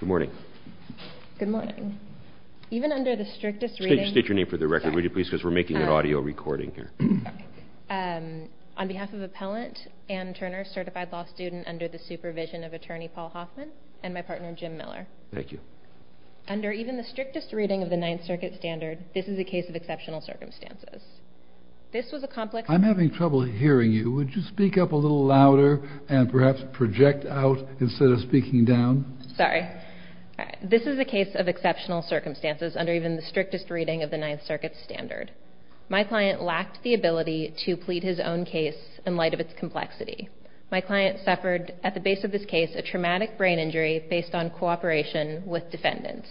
Good morning. Good morning. Even under the strictest reading... Could you state your name for the record, please, because we're making an audio recording here. On behalf of Appellant Ann Turner, certified law student under the supervision of Attorney Paul Hoffman, and my partner Jim Miller. Thank you. Under even the strictest reading of the Ninth Circuit standard, this is a case of exceptional circumstances. This was a complex... Sorry. This is a case of exceptional circumstances under even the strictest reading of the Ninth Circuit standard. My client lacked the ability to plead his own case in light of its complexity. My client suffered, at the base of this case, a traumatic brain injury based on cooperation with defendants.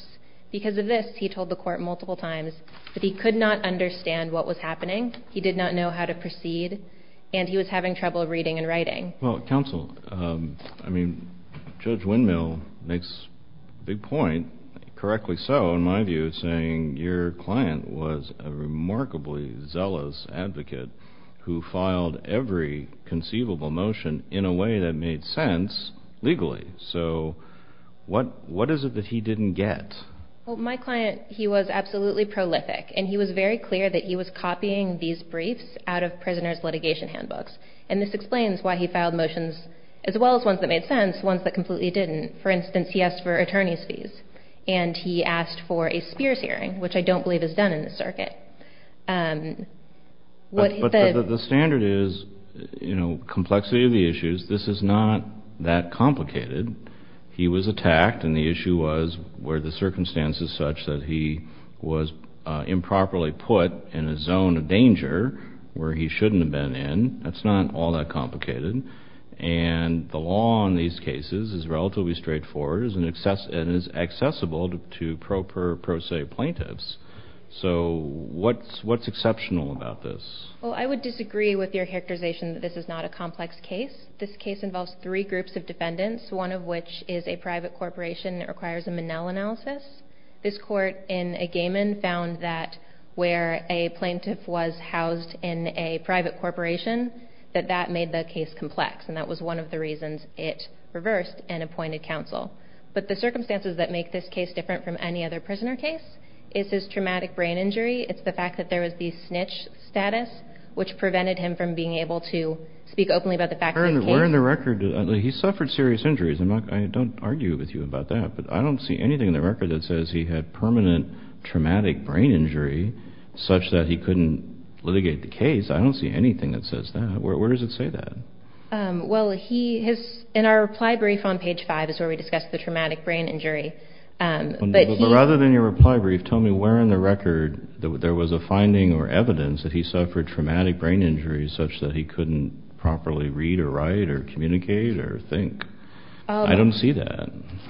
Because of this, he told the court multiple times that he could not understand what was happening, he did not know how to proceed, and he was having trouble reading and writing. Well, counsel, I mean, Judge Windmill makes a big point, correctly so in my view, saying your client was a remarkably zealous advocate who filed every conceivable motion in a way that made sense legally. So, what is it that he didn't get? Well, my client, he was absolutely prolific. And he was very clear that he was copying these briefs out of prisoner's litigation handbooks. And this explains why he filed motions, as well as ones that made sense, ones that completely didn't. For instance, he asked for attorney's fees. And he asked for a Spears hearing, which I don't believe is done in this circuit. But the standard is, you know, complexity of the issues. This is not that complicated. He was attacked, and the issue was were the circumstances such that he was improperly put in a zone of danger where he shouldn't have been in. That's not all that complicated. And the law in these cases is relatively straightforward and is accessible to pro per pro se plaintiffs. So, what's exceptional about this? Well, I would disagree with your characterization that this is not a complex case. This case involves three groups of defendants, one of which is a private corporation that requires a Manel analysis. This court in Egaman found that where a plaintiff was housed in a private corporation, that that made the case complex. And that was one of the reasons it reversed and appointed counsel. But the circumstances that make this case different from any other prisoner case is his traumatic brain injury. It's the fact that there was the snitch status, which prevented him from being able to speak openly about the fact that he came. He suffered serious injuries. I don't argue with you about that. But I don't see anything in the record that says he had permanent traumatic brain injury such that he couldn't litigate the case. I don't see anything that says that. Where does it say that? Well, in our reply brief on page 5 is where we discussed the traumatic brain injury. But rather than your reply brief, tell me where in the record there was a finding or evidence that he suffered traumatic brain injuries such that he couldn't properly read or write or communicate or think. I don't see that.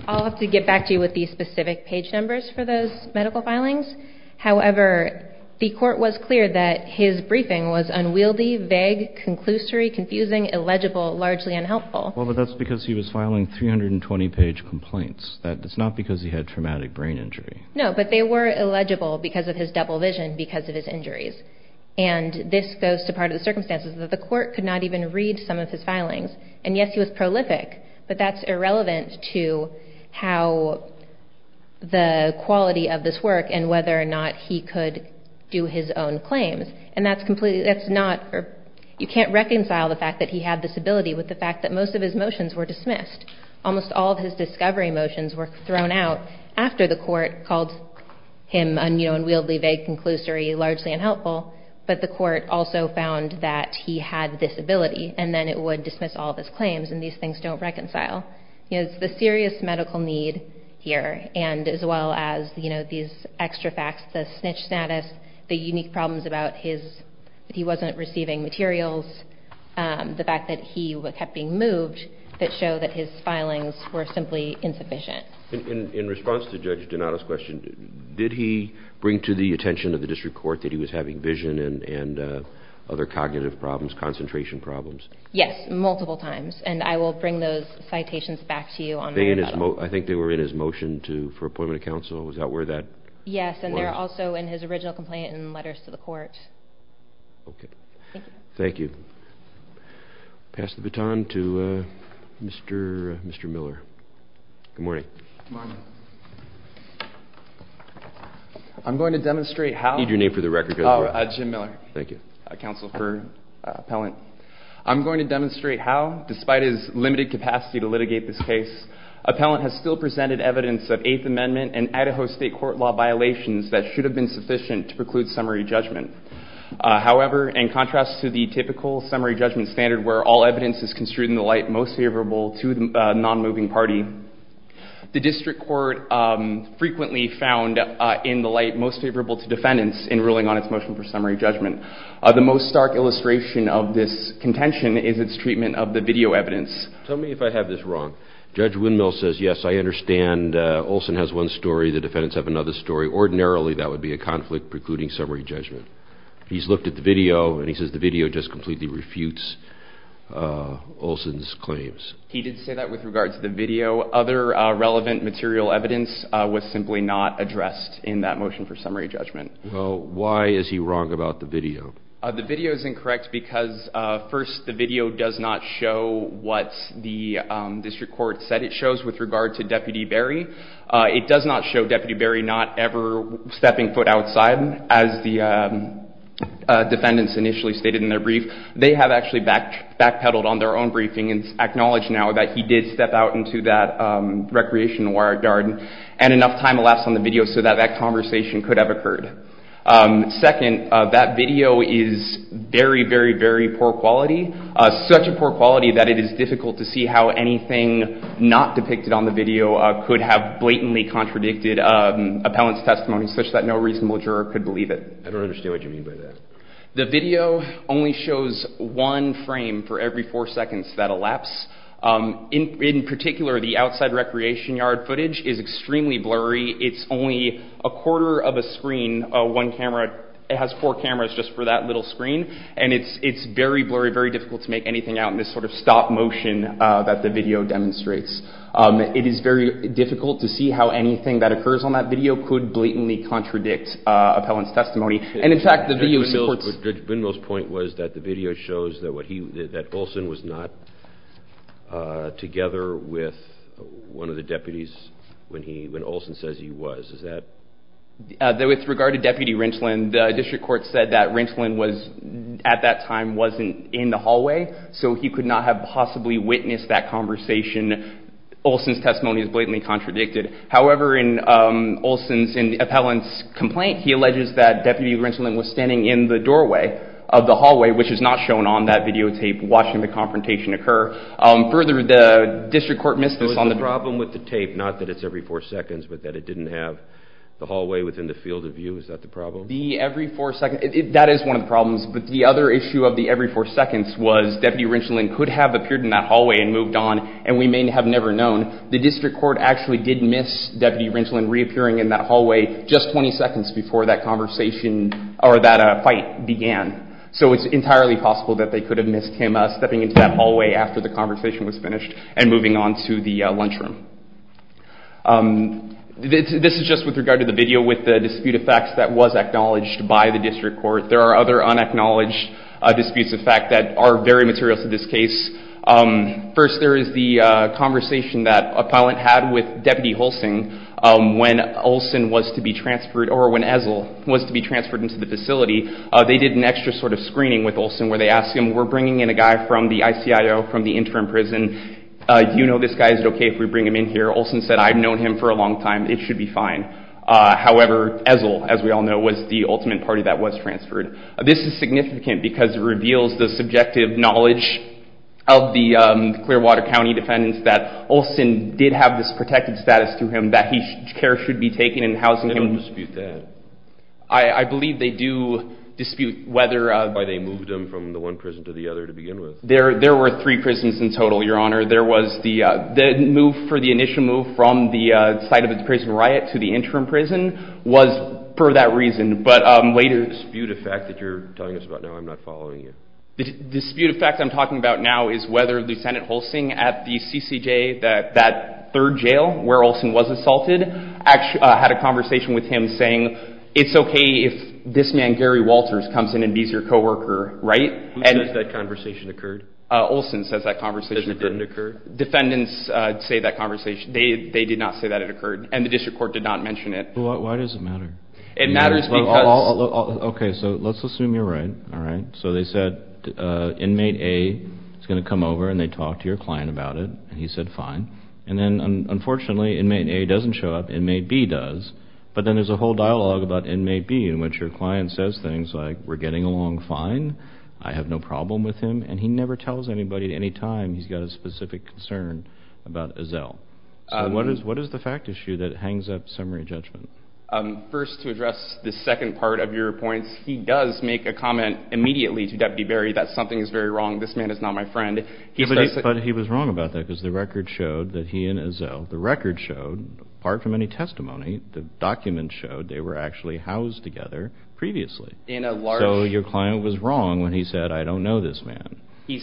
I'll have to get back to you with the specific page numbers for those medical filings. However, the court was clear that his briefing was unwieldy, vague, conclusory, confusing, illegible, largely unhelpful. Well, but that's because he was filing 320-page complaints. That's not because he had traumatic brain injury. No, but they were illegible because of his double vision because of his injuries. And this goes to part of the circumstances that the court could not even read some of his filings. And, yes, he was prolific, but that's irrelevant to how the quality of this work and whether or not he could do his own claims. And that's completely – that's not – you can't reconcile the fact that he had this ability with the fact that most of his motions were dismissed. Almost all of his discovery motions were thrown out after the court called him unwieldy, vague, conclusory, largely unhelpful. But the court also found that he had this ability, and then it would dismiss all of his claims, and these things don't reconcile. It's the serious medical need here, and as well as these extra facts, the snitch status, the unique problems about his – the fact that he kept being moved that show that his filings were simply insufficient. In response to Judge Donato's question, did he bring to the attention of the district court that he was having vision and other cognitive problems, concentration problems? Yes, multiple times, and I will bring those citations back to you on Monday. I think they were in his motion for appointment of counsel. Was that where that was? Yes, and they're also in his original complaint and letters to the court. Okay. Thank you. Pass the baton to Mr. Miller. Good morning. Good morning. I'm going to demonstrate how – I need your name for the record. Oh, Jim Miller. Thank you. Counsel for Appellant. I'm going to demonstrate how, despite his limited capacity to litigate this case, Appellant has still presented evidence of Eighth Amendment and Idaho State court law violations that should have been sufficient to preclude summary judgment. However, in contrast to the typical summary judgment standard where all evidence is construed in the light most favorable to the nonmoving party, the district court frequently found in the light most favorable to defendants in ruling on its motion for summary judgment. The most stark illustration of this contention is its treatment of the video evidence. Tell me if I have this wrong. Judge Windmill says, yes, I understand. Olson has one story. The defendants have another story. Ordinarily, that would be a conflict precluding summary judgment. He's looked at the video, and he says the video just completely refutes Olson's claims. He did say that with regard to the video. Other relevant material evidence was simply not addressed in that motion for summary judgment. Well, why is he wrong about the video? The video is incorrect because, first, the video does not show what the district court said it shows with regard to Deputy Berry. It does not show Deputy Berry not ever stepping foot outside, as the defendants initially stated in their brief. They have actually backpedaled on their own briefing and acknowledge now that he did step out into that recreation yard and enough time elapsed on the video so that that conversation could have occurred. Second, that video is very, very, very poor quality, such a poor quality that it is difficult to see how anything not depicted on the video could have blatantly contradicted appellant's testimony such that no reasonable juror could believe it. I don't understand what you mean by that. The video only shows one frame for every four seconds that elapsed. In particular, the outside recreation yard footage is extremely blurry. It's only a quarter of a screen, one camera. It has four cameras just for that little screen. And it's very blurry, very difficult to make anything out in this sort of stop motion that the video demonstrates. It is very difficult to see how anything that occurs on that video could blatantly contradict appellant's testimony. And, in fact, the video supports… Judge Bindel's point was that the video shows that Olson was not together with one of the deputies when Olson says he was. With regard to Deputy Rensland, the district court said that Rensland at that time wasn't in the hallway, so he could not have possibly witnessed that conversation. Olson's testimony is blatantly contradicted. However, in Olson's appellant's complaint, he alleges that Deputy Rensland was standing in the doorway of the hallway, which is not shown on that videotape, watching the confrontation occur. Further, the district court missed this on the… Is there a problem with the tape, not that it's every four seconds, but that it didn't have the hallway within the field of view? Is that the problem? The every four seconds… That is one of the problems. But the other issue of the every four seconds was Deputy Rensland could have appeared in that hallway and moved on, and we may have never known. The district court actually did miss Deputy Rensland reappearing in that hallway just 20 seconds before that conversation or that fight began. So it's entirely possible that they could have missed him stepping into that hallway after the conversation was finished and moving on to the lunchroom. This is just with regard to the video with the dispute of facts that was acknowledged by the district court. There are other unacknowledged disputes of fact that are very material to this case. First, there is the conversation that appellant had with Deputy Holsing when Olson was to be transferred or when Ezell was to be transferred into the facility. They did an extra sort of screening with Olson where they asked him, we're bringing in a guy from the ICIO from the interim prison. Do you know this guy? Is it okay if we bring him in here? Olson said, I've known him for a long time. It should be fine. However, Ezell, as we all know, was the ultimate party that was transferred. This is significant because it reveals the subjective knowledge of the Clearwater County defendants that Olson did have this protected status to him that care should be taken in housing him. They don't dispute that. I believe they do dispute whether. Why they moved him from the one prison to the other to begin with. There were three prisons in total, Your Honor. The move for the initial move from the site of the prison riot to the interim prison was for that reason. But later. The dispute of fact that you're telling us about now, I'm not following you. The dispute of fact I'm talking about now is whether the Senate holsing at the CCJ, that third jail where Olson was assaulted, had a conversation with him saying, it's okay if this man, Gary Walters, comes in and he's your coworker, right? Who says that conversation occurred? Olson says that conversation occurred. Defendants say that conversation. They did not say that it occurred. And the district court did not mention it. Why does it matter? It matters because. Okay. So let's assume you're right. All right. So they said, inmate A is going to come over and they talk to your client about it. And he said, fine. And then, unfortunately, inmate A doesn't show up. Inmate B does. But then there's a whole dialogue about inmate B in which your client says things like, we're getting along fine. I have no problem with him. And he never tells anybody at any time he's got a specific concern about Ezell. So what is the fact issue that hangs up summary judgment? First, to address the second part of your points, he does make a comment immediately to Deputy Barry that something is very wrong. This man is not my friend. But he was wrong about that because the record showed that he and Ezell, the record showed, apart from any testimony, the document showed they were actually housed together previously. So your client was wrong when he said, I don't know this man. You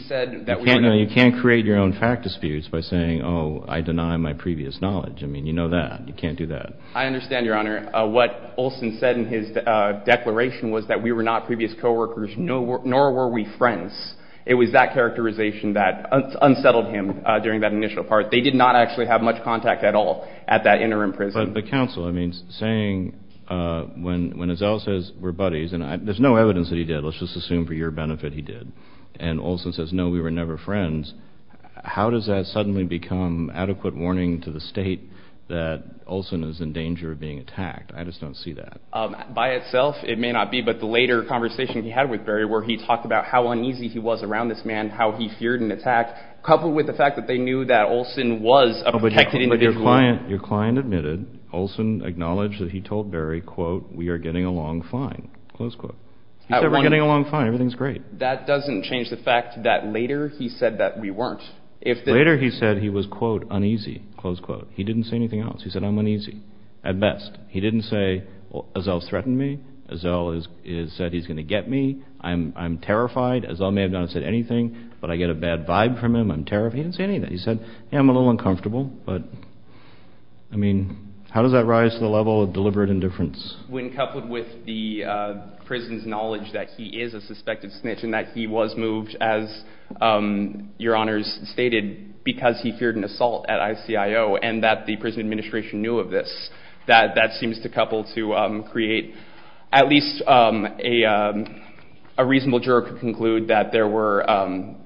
can't create your own fact disputes by saying, oh, I deny my previous knowledge. I mean, you know that. You can't do that. I understand, Your Honor. What Olson said in his declaration was that we were not previous coworkers, nor were we friends. It was that characterization that unsettled him during that initial part. They did not actually have much contact at all at that interim prison. But the counsel, I mean, saying when Ezell says we're buddies, and there's no evidence that he did. Let's just assume for your benefit he did. And Olson says, no, we were never friends. How does that suddenly become adequate warning to the state that Olson is in danger of being attacked? I just don't see that. By itself, it may not be. But the later conversation he had with Barry where he talked about how uneasy he was around this man, how he feared an attack, coupled with the fact that they knew that Olson was a protected individual. Your client admitted Olson acknowledged that he told Barry, quote, we are getting along fine, close quote. He said we're getting along fine. Everything's great. But that doesn't change the fact that later he said that we weren't. Later he said he was, quote, uneasy, close quote. He didn't say anything else. He said I'm uneasy at best. He didn't say, well, Ezell threatened me. Ezell said he's going to get me. I'm terrified. Ezell may have not said anything, but I get a bad vibe from him. I'm terrified. He didn't say anything. He said, yeah, I'm a little uncomfortable. But, I mean, how does that rise to the level of deliberate indifference? When coupled with the prison's knowledge that he is a suspected snitch and that he was moved, as your honors stated, because he feared an assault at ICIO and that the prison administration knew of this. That seems to couple to create at least a reasonable juror could conclude that there were,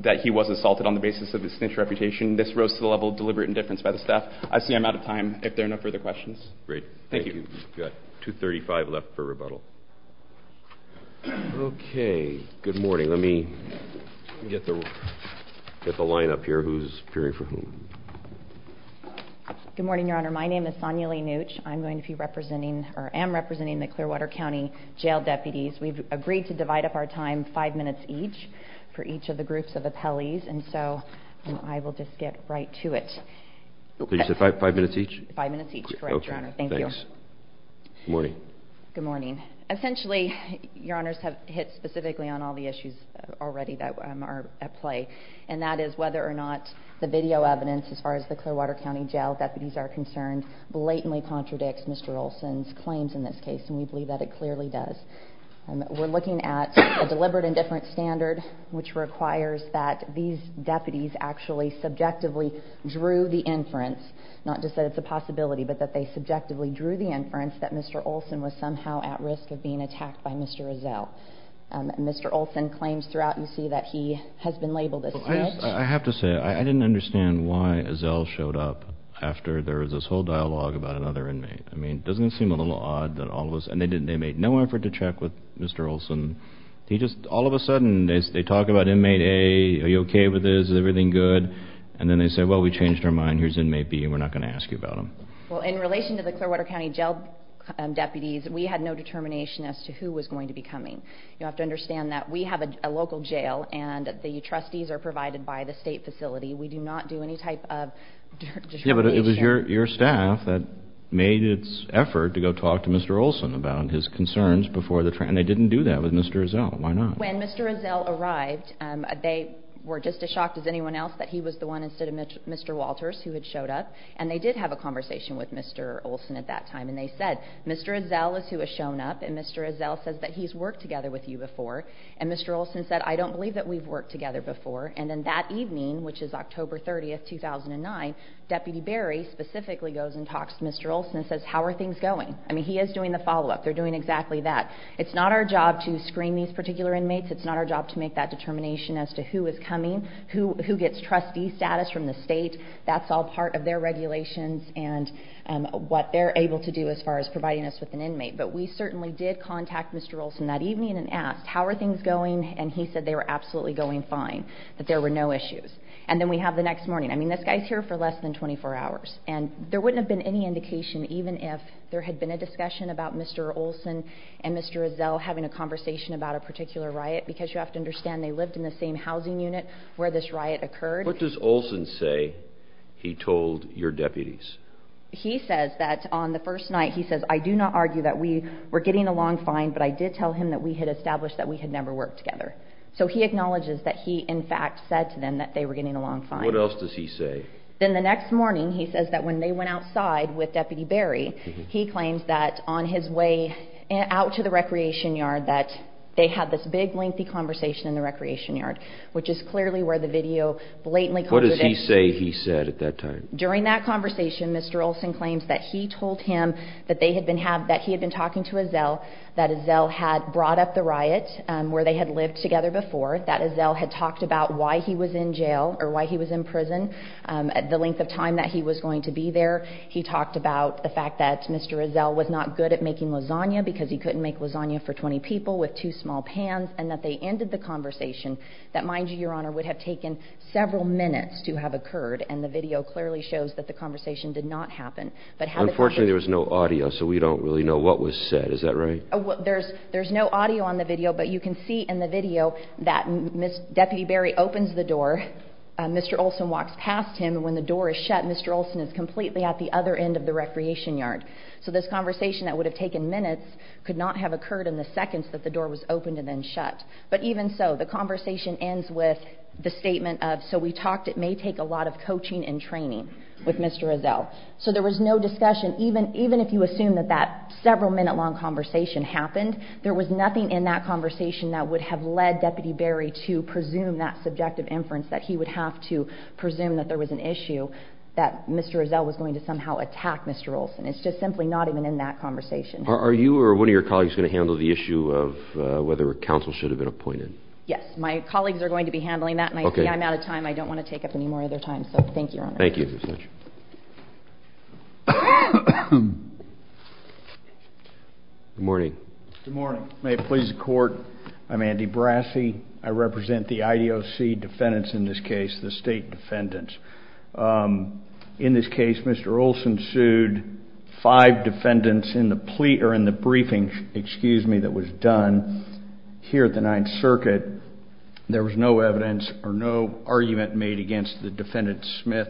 that he was assaulted on the basis of his snitch reputation. This rose to the level of deliberate indifference by the staff. I see I'm out of time. If there are no further questions. Great. Thank you. We've got 2.35 left for rebuttal. Okay. Good morning. Let me get the line up here. Who's appearing for whom? Good morning, your honor. My name is Sonia Lee Neutch. I'm going to be representing, or am representing the Clearwater County jail deputies. We've agreed to divide up our time five minutes each for each of the groups of appellees, and so I will just get right to it. You said five minutes each? Five minutes each, correct, your honor. Thank you. Thanks. Good morning. Good morning. Essentially, your honors have hit specifically on all the issues already that are at play, and that is whether or not the video evidence as far as the Clearwater County jail deputies are concerned blatantly contradicts Mr. Olsen's claims in this case, and we believe that it clearly does. We're looking at a deliberate indifference standard, which requires that these deputies actually subjectively drew the inference, not just that it's a possibility, but that they subjectively drew the inference that Mr. Olsen was somehow at risk of being attacked by Mr. Ezell. Mr. Olsen claims throughout, you see, that he has been labeled as such. I have to say, I didn't understand why Ezell showed up after there was this whole dialogue about another inmate. I mean, doesn't it seem a little odd that all of us, and they made no effort to check with Mr. Olsen. He just, all of a sudden, they talk about inmate A, are you okay with this, is everything good, and then they say, well, we changed our mind, here's inmate B, and we're not going to ask you about him. Well, in relation to the Clearwater County jail deputies, we had no determination as to who was going to be coming. You have to understand that we have a local jail, and the trustees are provided by the state facility. We do not do any type of determination. Yeah, but it was your staff that made its effort to go talk to Mr. Olsen about his concerns before the trial, and they didn't do that with Mr. Ezell. Why not? When Mr. Ezell arrived, they were just as shocked as anyone else that he was the one instead of Mr. Walters who had showed up, and they did have a conversation with Mr. Olsen at that time, and they said, Mr. Ezell is who has shown up, and Mr. Ezell says that he's worked together with you before, and Mr. Olsen said, I don't believe that we've worked together before, and then that evening, which is October 30, 2009, Deputy Berry specifically goes and talks to Mr. Olsen and says, how are things going? I mean, he is doing the follow-up. They're doing exactly that. It's not our job to screen these particular inmates. It's not our job to make that determination as to who is coming, who gets trustee status from the state. That's all part of their regulations and what they're able to do as far as providing us with an inmate, but we certainly did contact Mr. Olsen that evening and asked, how are things going, and he said they were absolutely going fine, that there were no issues, and then we have the next morning. I mean, this guy's here for less than 24 hours, and there wouldn't have been any indication, even if there had been a discussion about Mr. Olsen and Mr. Ezell having a conversation about a particular riot because you have to understand they lived in the same housing unit where this riot occurred. What does Olsen say he told your deputies? He says that on the first night, he says, I do not argue that we were getting along fine, but I did tell him that we had established that we had never worked together, so he acknowledges that he, in fact, said to them that they were getting along fine. What else does he say? Then the next morning, he says that when they went outside with Deputy Berry, he claims that on his way out to the recreation yard, that they had this big lengthy conversation in the recreation yard, which is clearly where the video blatantly comes in. What does he say he said at that time? During that conversation, Mr. Olsen claims that he told him that he had been talking to Ezell, that Ezell had brought up the riot where they had lived together before, that Ezell had talked about why he was in jail or why he was in prison, the length of time that he was going to be there. He talked about the fact that Mr. Ezell was not good at making lasagna because he couldn't make lasagna for 20 people with two small pans, and that they ended the conversation that, mind you, Your Honor, would have taken several minutes to have occurred, and the video clearly shows that the conversation did not happen. Unfortunately, there was no audio, so we don't really know what was said. Is that right? There's no audio on the video, but you can see in the video that Deputy Berry opens the door, Mr. Olsen walks past him, and when the door is shut, Mr. Olsen is completely at the other end of the recreation yard. So this conversation that would have taken minutes could not have occurred in the seconds that the door was opened and then shut. But even so, the conversation ends with the statement of, so we talked, it may take a lot of coaching and training with Mr. Ezell. So there was no discussion, even if you assume that that several-minute-long conversation happened, there was nothing in that conversation that would have led Deputy Berry to presume that subjective inference, that he would have to presume that there was an issue, that Mr. Ezell was going to somehow attack Mr. Olsen. It's just simply not even in that conversation. Are you or one of your colleagues going to handle the issue of whether a counsel should have been appointed? Yes, my colleagues are going to be handling that, and I see I'm out of time. I don't want to take up any more of their time, so thank you, Your Honor. Thank you. Good morning. Good morning. May it please the Court, I'm Andy Brassi. I represent the IDOC defendants in this case, the state defendants. In this case, Mr. Olsen sued five defendants in the briefing that was done here at the Ninth Circuit. There was no evidence or no argument made against the defendants, Mr. Smith,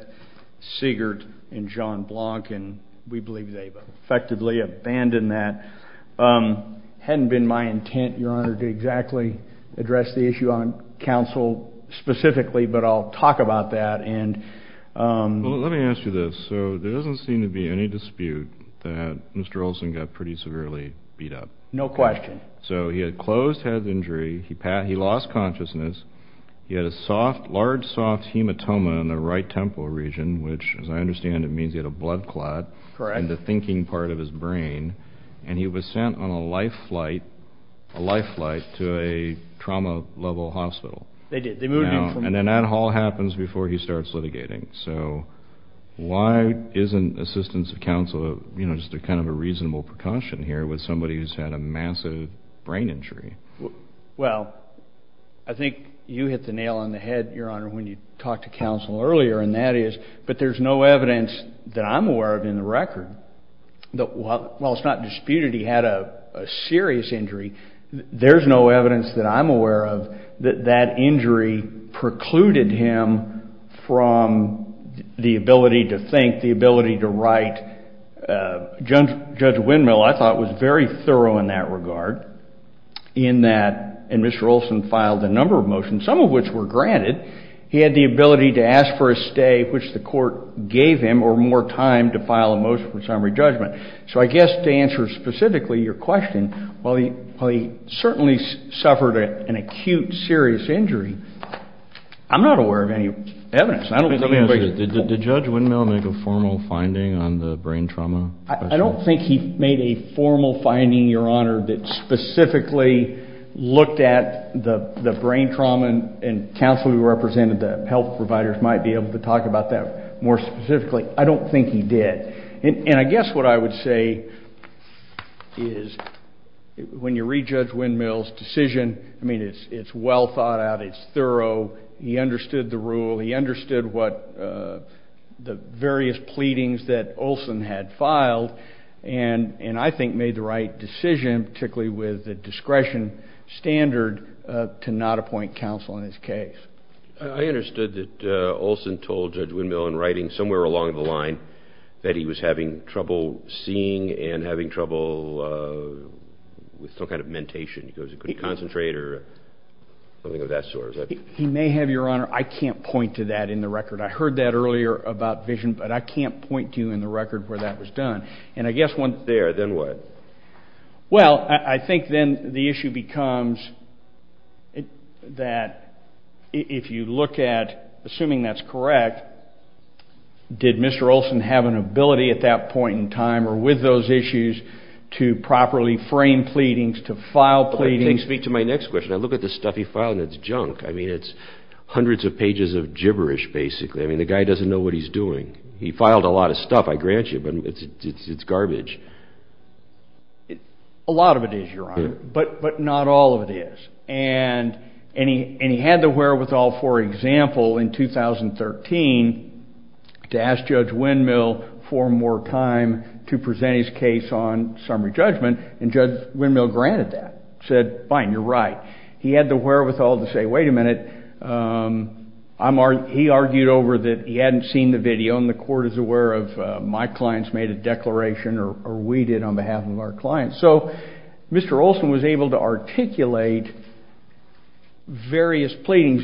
Siegert, and John Blonk, and we believe they've effectively abandoned that. It hadn't been my intent, Your Honor, to exactly address the issue on counsel specifically, but I'll talk about that. Well, let me ask you this. So there doesn't seem to be any dispute that Mr. Olsen got pretty severely beat up. No question. So he had a closed head injury. He lost consciousness. He had a large, soft hematoma in the right temporal region, which, as I understand, it means he had a blood clot in the thinking part of his brain, and he was sent on a life flight to a trauma-level hospital. They did. And then that all happens before he starts litigating. So why isn't assistance of counsel just kind of a reasonable precaution here with somebody who's had a massive brain injury? Well, I think you hit the nail on the head, Your Honor, when you talked to counsel earlier, and that is that there's no evidence that I'm aware of in the record that while it's not disputed he had a serious injury, there's no evidence that I'm aware of that that injury precluded him from the ability to think, the ability to write. Judge Windmill, I thought, was very thorough in that regard in that, and Mr. Olsen filed a number of motions, some of which were granted. He had the ability to ask for a stay, which the court gave him, or more time to file a motion for summary judgment. So I guess to answer specifically your question, while he certainly suffered an acute, serious injury, I'm not aware of any evidence. Did Judge Windmill make a formal finding on the brain trauma? I don't think he made a formal finding, Your Honor, that specifically looked at the brain trauma, and counsel who represented the health providers might be able to talk about that more specifically. I don't think he did. And I guess what I would say is when you read Judge Windmill's decision, I mean, it's well thought out. It's thorough. He understood the rule. He understood what the various pleadings that Olsen had filed, and I think made the right decision, particularly with the discretion standard, to not appoint counsel in his case. I understood that Olsen told Judge Windmill in writing somewhere along the line that he was having trouble seeing and having trouble with some kind of mentation. He couldn't concentrate or something of that sort. He may have, Your Honor. I can't point to that in the record. I heard that earlier about vision, but I can't point to you in the record where that was done. And I guess one thing. There. Then what? Well, I think then the issue becomes that if you look at, assuming that's correct, did Mr. Olsen have an ability at that point in time or with those issues to properly frame pleadings, to file pleadings? I can't speak to my next question. I look at the stuff he filed, and it's junk. I mean, it's hundreds of pages of gibberish, basically. I mean, the guy doesn't know what he's doing. He filed a lot of stuff, I grant you, but it's garbage. A lot of it is, Your Honor, but not all of it is. And he had the wherewithal, for example, in 2013 to ask Judge Windmill for more time to present his case on summary judgment, and Judge Windmill granted that, said, fine, you're right. He had the wherewithal to say, wait a minute, he argued over that he hadn't seen the video, and the court is aware of my client's made a declaration or we did on behalf of our client. So Mr. Olsen was able to articulate various pleadings.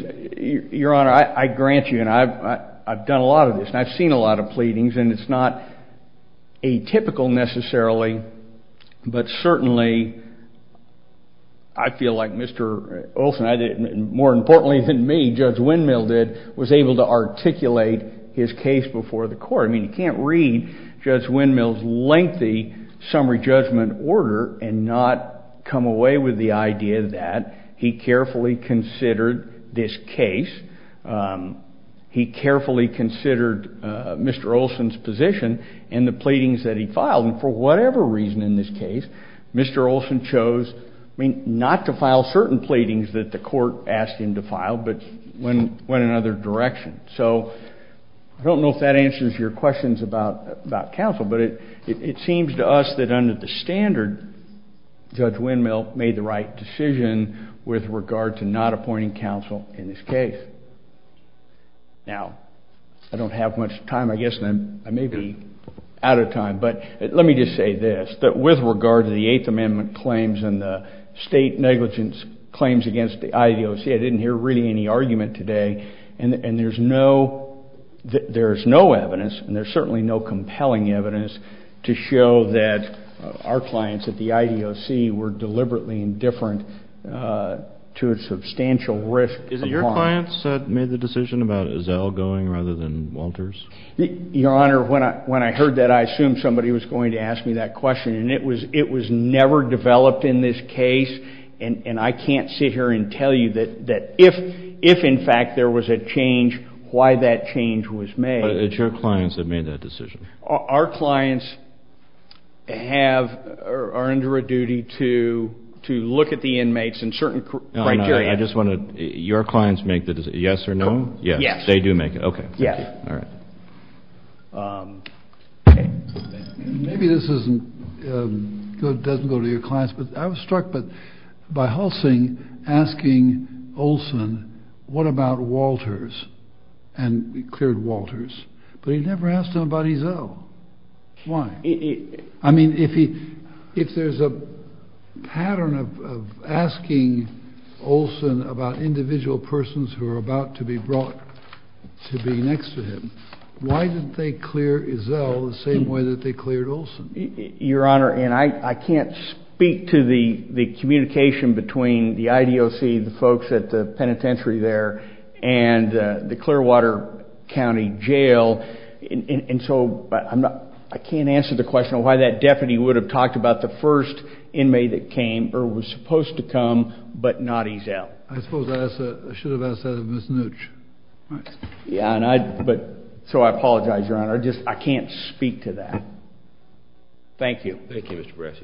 Your Honor, I grant you, and I've done a lot of this, and I've seen a lot of pleadings, and it's not atypical necessarily, but certainly I feel like Mr. Olsen, more importantly than me, Judge Windmill did, was able to articulate his case before the court. I mean, you can't read Judge Windmill's lengthy summary judgment order and not come away with the idea that he carefully considered this case. He carefully considered Mr. Olsen's position and the pleadings that he filed. And for whatever reason in this case, Mr. Olsen chose, I mean, not to file certain pleadings that the court asked him to file, but went in another direction. So I don't know if that answers your questions about counsel, but it seems to us that under the standard, Judge Windmill made the right decision with regard to not appointing counsel in this case. Now, I don't have much time, I guess I may be out of time, but let me just say this, that with regard to the Eighth Amendment claims and the state negligence claims against the IAOC, I didn't hear really any argument today, and there's no evidence, and there's certainly no compelling evidence, to show that our clients at the IAOC were deliberately indifferent to a substantial risk. Is it your clients that made the decision about Ezell going rather than Walters? Your Honor, when I heard that, I assumed somebody was going to ask me that question, and it was never developed in this case, and I can't sit here and tell you that if, in fact, there was a change, why that change was made. But it's your clients that made that decision. Our clients are under a duty to look at the inmates in certain criteria. Your clients make the decision, yes or no? They do make it, okay. Yes. All right. Okay. Maybe this doesn't go to your clients, but I was struck by Hulsing asking Olson, what about Walters, and he cleared Walters, but he never asked him about Ezell. Why? I mean, if there's a pattern of asking Olson about individual persons who are about to be brought to be next to him, why didn't they clear Ezell the same way that they cleared Olson? Your Honor, and I can't speak to the communication between the IDOC, the folks at the penitentiary there, and the Clearwater County Jail, and so I can't answer the question of why that deputy would have talked about the first inmate that came or was supposed to come but not Ezell. I suppose I should have asked that of Ms. Nooch. Yeah, but so I apologize, Your Honor. I just can't speak to that. Thank you. Thank you, Mr. Brassi.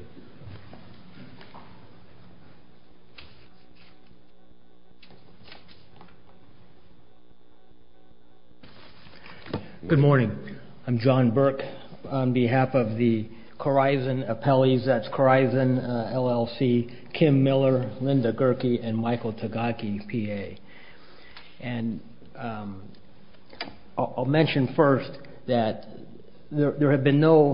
Good morning. I'm John Burke on behalf of the Corizon Appellees. That's Corizon, LLC, Kim Miller, Linda Gerke, and Michael Tagaki, PA. And I'll mention first that there have been no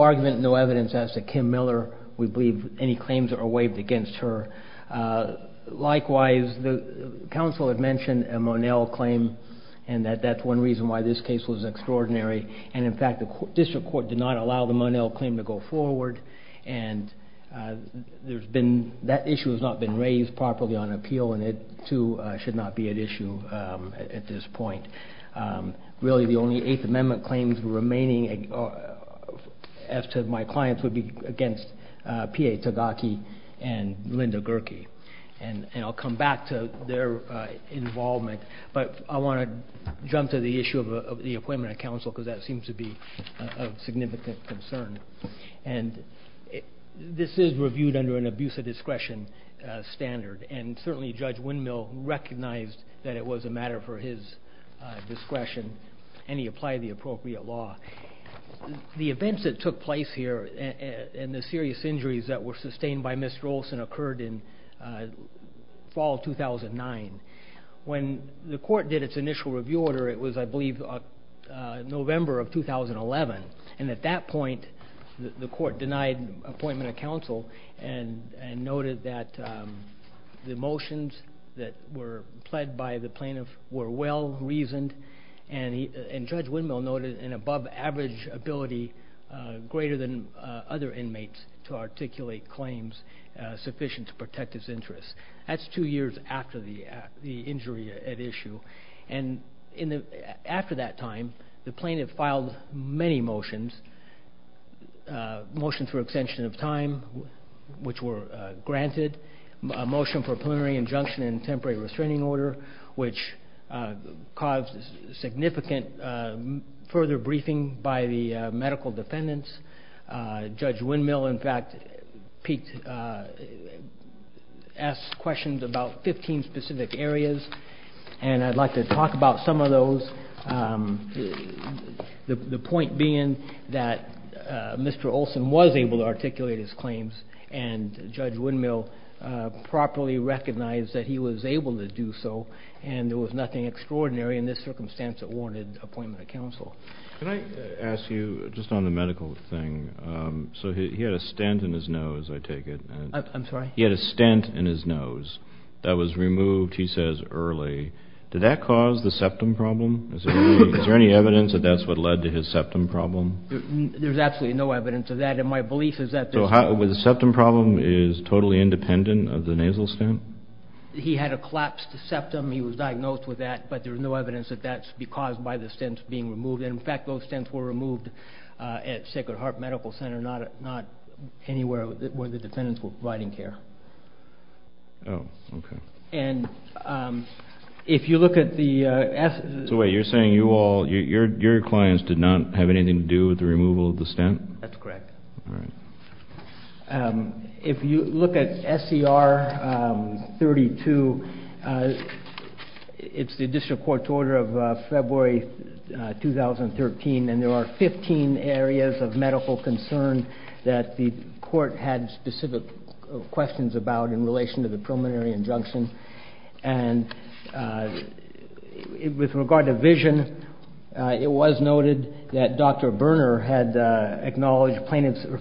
argument, no evidence as to Kim Miller. We believe any claims are waived against her. Likewise, the counsel had mentioned a Monell claim, and that that's one reason why this case was extraordinary. And, in fact, the district court did not allow the Monell claim to go forward, and that issue has not been raised properly on appeal, and it, too, should not be at issue at this point. Really, the only Eighth Amendment claims remaining as to my clients would be against PA Tagaki and Linda Gerke. And I'll come back to their involvement, but I want to jump to the issue of the appointment of counsel because that seems to be of significant concern. And this is reviewed under an abuse of discretion standard, and certainly Judge Windmill recognized that it was a matter for his discretion, and he applied the appropriate law. The events that took place here and the serious injuries that were sustained by Ms. Jolson occurred in fall 2009. When the court did its initial review order, it was, I believe, November of 2011, and at that point the court denied appointment of counsel and noted that the motions that were pled by the plaintiff were well-reasoned, and Judge Windmill noted an above-average ability greater than other inmates to articulate claims sufficient to protect his interests. That's two years after the injury at issue. And after that time, the plaintiff filed many motions, motions for extension of time, which were granted, a motion for a preliminary injunction and temporary restraining order, which caused significant further briefing by the medical defendants. Judge Windmill, in fact, asked questions about 15 specific areas, and I'd like to talk about some of those, the point being that Mr. Olson was able to articulate his claims and Judge Windmill properly recognized that he was able to do so and there was nothing extraordinary in this circumstance that warranted appointment of counsel. Can I ask you, just on the medical thing, so he had a stent in his nose, I take it. I'm sorry? He had a stent in his nose that was removed, he says, early. Did that cause the septum problem? Is there any evidence that that's what led to his septum problem? There's absolutely no evidence of that, and my belief is that there's no… So the septum problem is totally independent of the nasal stent? He had a collapsed septum. He was diagnosed with that, but there's no evidence that that should be caused by the stent being removed, and, in fact, those stents were removed at Sacred Heart Medical Center, not anywhere where the defendants were providing care. Oh, okay. And if you look at the… So wait, you're saying your clients did not have anything to do with the removal of the stent? That's correct. All right. If you look at SCR 32, it's the district court's order of February 2013, and there are 15 areas of medical concern that the court had specific questions about in relation to the preliminary injunction, and with regard to vision, it was noted that Dr. Berner had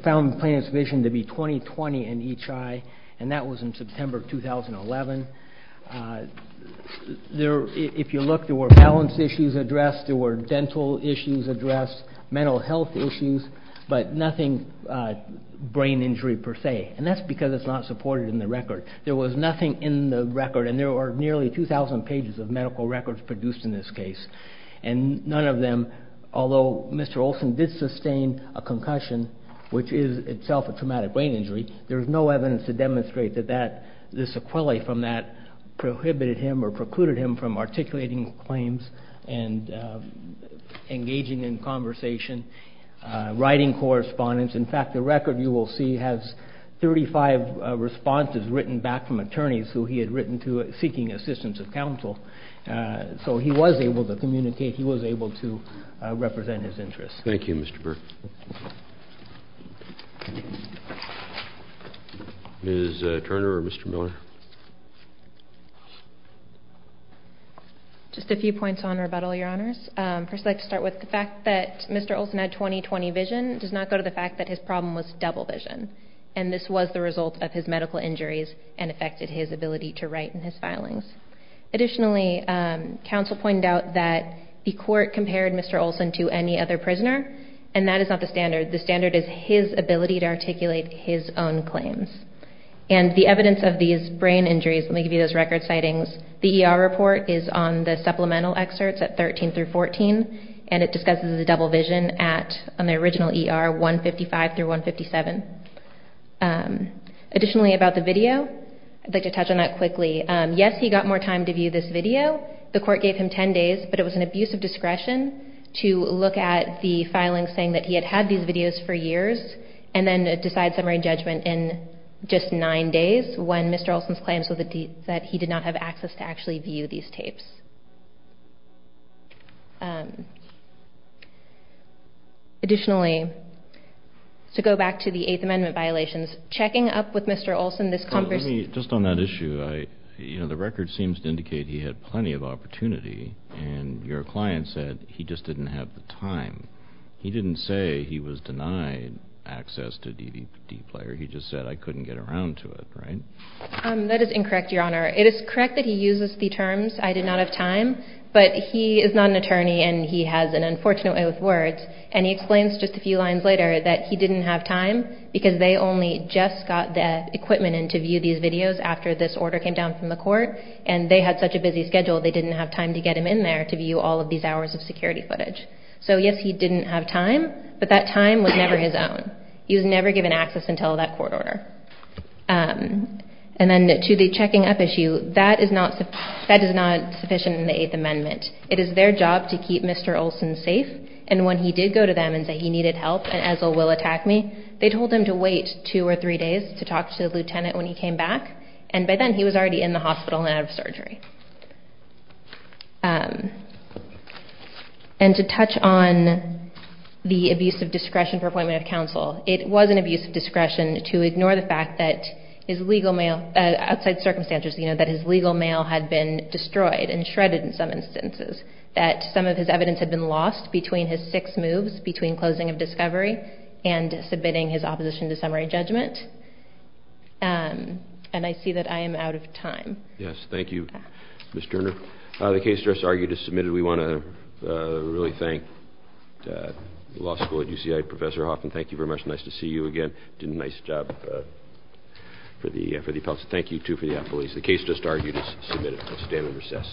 found the plaintiff's vision to be 20-20 in each eye, and that was in September 2011. If you look, there were balance issues addressed, there were dental issues addressed, mental health issues, but nothing brain injury per se, and that's because it's not supported in the record. There was nothing in the record, and there were nearly 2,000 pages of medical records produced in this case, and none of them, although Mr. Olson did sustain a concussion, which is itself a traumatic brain injury, there is no evidence to demonstrate that this sequelae from that prohibited him or precluded him from articulating claims and engaging in conversation, writing correspondence. In fact, the record you will see has 35 responses written back from attorneys who he had written to seeking assistance of counsel, so he was able to communicate, he was able to represent his interests. Thank you, Mr. Berner. Ms. Turner or Mr. Miller? Just a few points on rebuttal, Your Honors. First, I'd like to start with the fact that Mr. Olson had 20-20 vision. It does not go to the fact that his problem was double vision, and this was the result of his medical injuries and affected his ability to write in his filings. Additionally, counsel pointed out that the court compared Mr. Olson to any other prisoner, and that is not the standard. The standard is his ability to articulate his own claims. And the evidence of these brain injuries, let me give you those record sightings. The ER report is on the supplemental excerpts at 13 through 14, and it discusses the double vision at, on the original ER, 155 through 157. Additionally, about the video, I'd like to touch on that quickly. Yes, he got more time to view this video. The court gave him 10 days, but it was an abuse of discretion to look at the filings saying that he had had these videos for years, and then decide summary judgment in just nine days when Mr. Olson's claims that he did not have access to actually view these tapes. Additionally, to go back to the Eighth Amendment violations, checking up with Mr. Olson, this conversation. Just on that issue, you know, the record seems to indicate he had plenty of opportunity, and your client said he just didn't have the time. He didn't say he was denied access to DVD player. He just said, I couldn't get around to it, right? That is incorrect, Your Honor. It is correct that he uses the terms, I did not have time, but he is not an attorney and he has an unfortunate way with words, and he explains just a few lines later that he didn't have time because they only just got the equipment in to view these videos after this order came down from the court, and they had such a busy schedule they didn't have time to get him in there to view all of these hours of security footage. So yes, he didn't have time, but that time was never his own. He was never given access until that court order. And then to the checking up issue, that is not sufficient in the Eighth Amendment. It is their job to keep Mr. Olson safe, and when he did go to them and say he needed help and Ezel will attack me, they told him to wait two or three days to talk to the lieutenant when he came back, and by then he was already in the hospital and out of surgery. And to touch on the abuse of discretion for appointment of counsel, it was an abuse of discretion to ignore the fact that his legal mail, outside circumstances, that his legal mail had been destroyed and shredded in some instances, that some of his evidence had been lost between his six moves between closing of discovery and submitting his opposition to summary judgment, and I see that I am out of time. Yes, thank you, Ms. Turner. The case just argued is submitted. We want to really thank the law school at UCI, Professor Hoffman, thank you very much. Nice to see you again. You did a nice job for the appellate. Thank you, too, for the appellate. The case just argued is submitted. I stand in recess.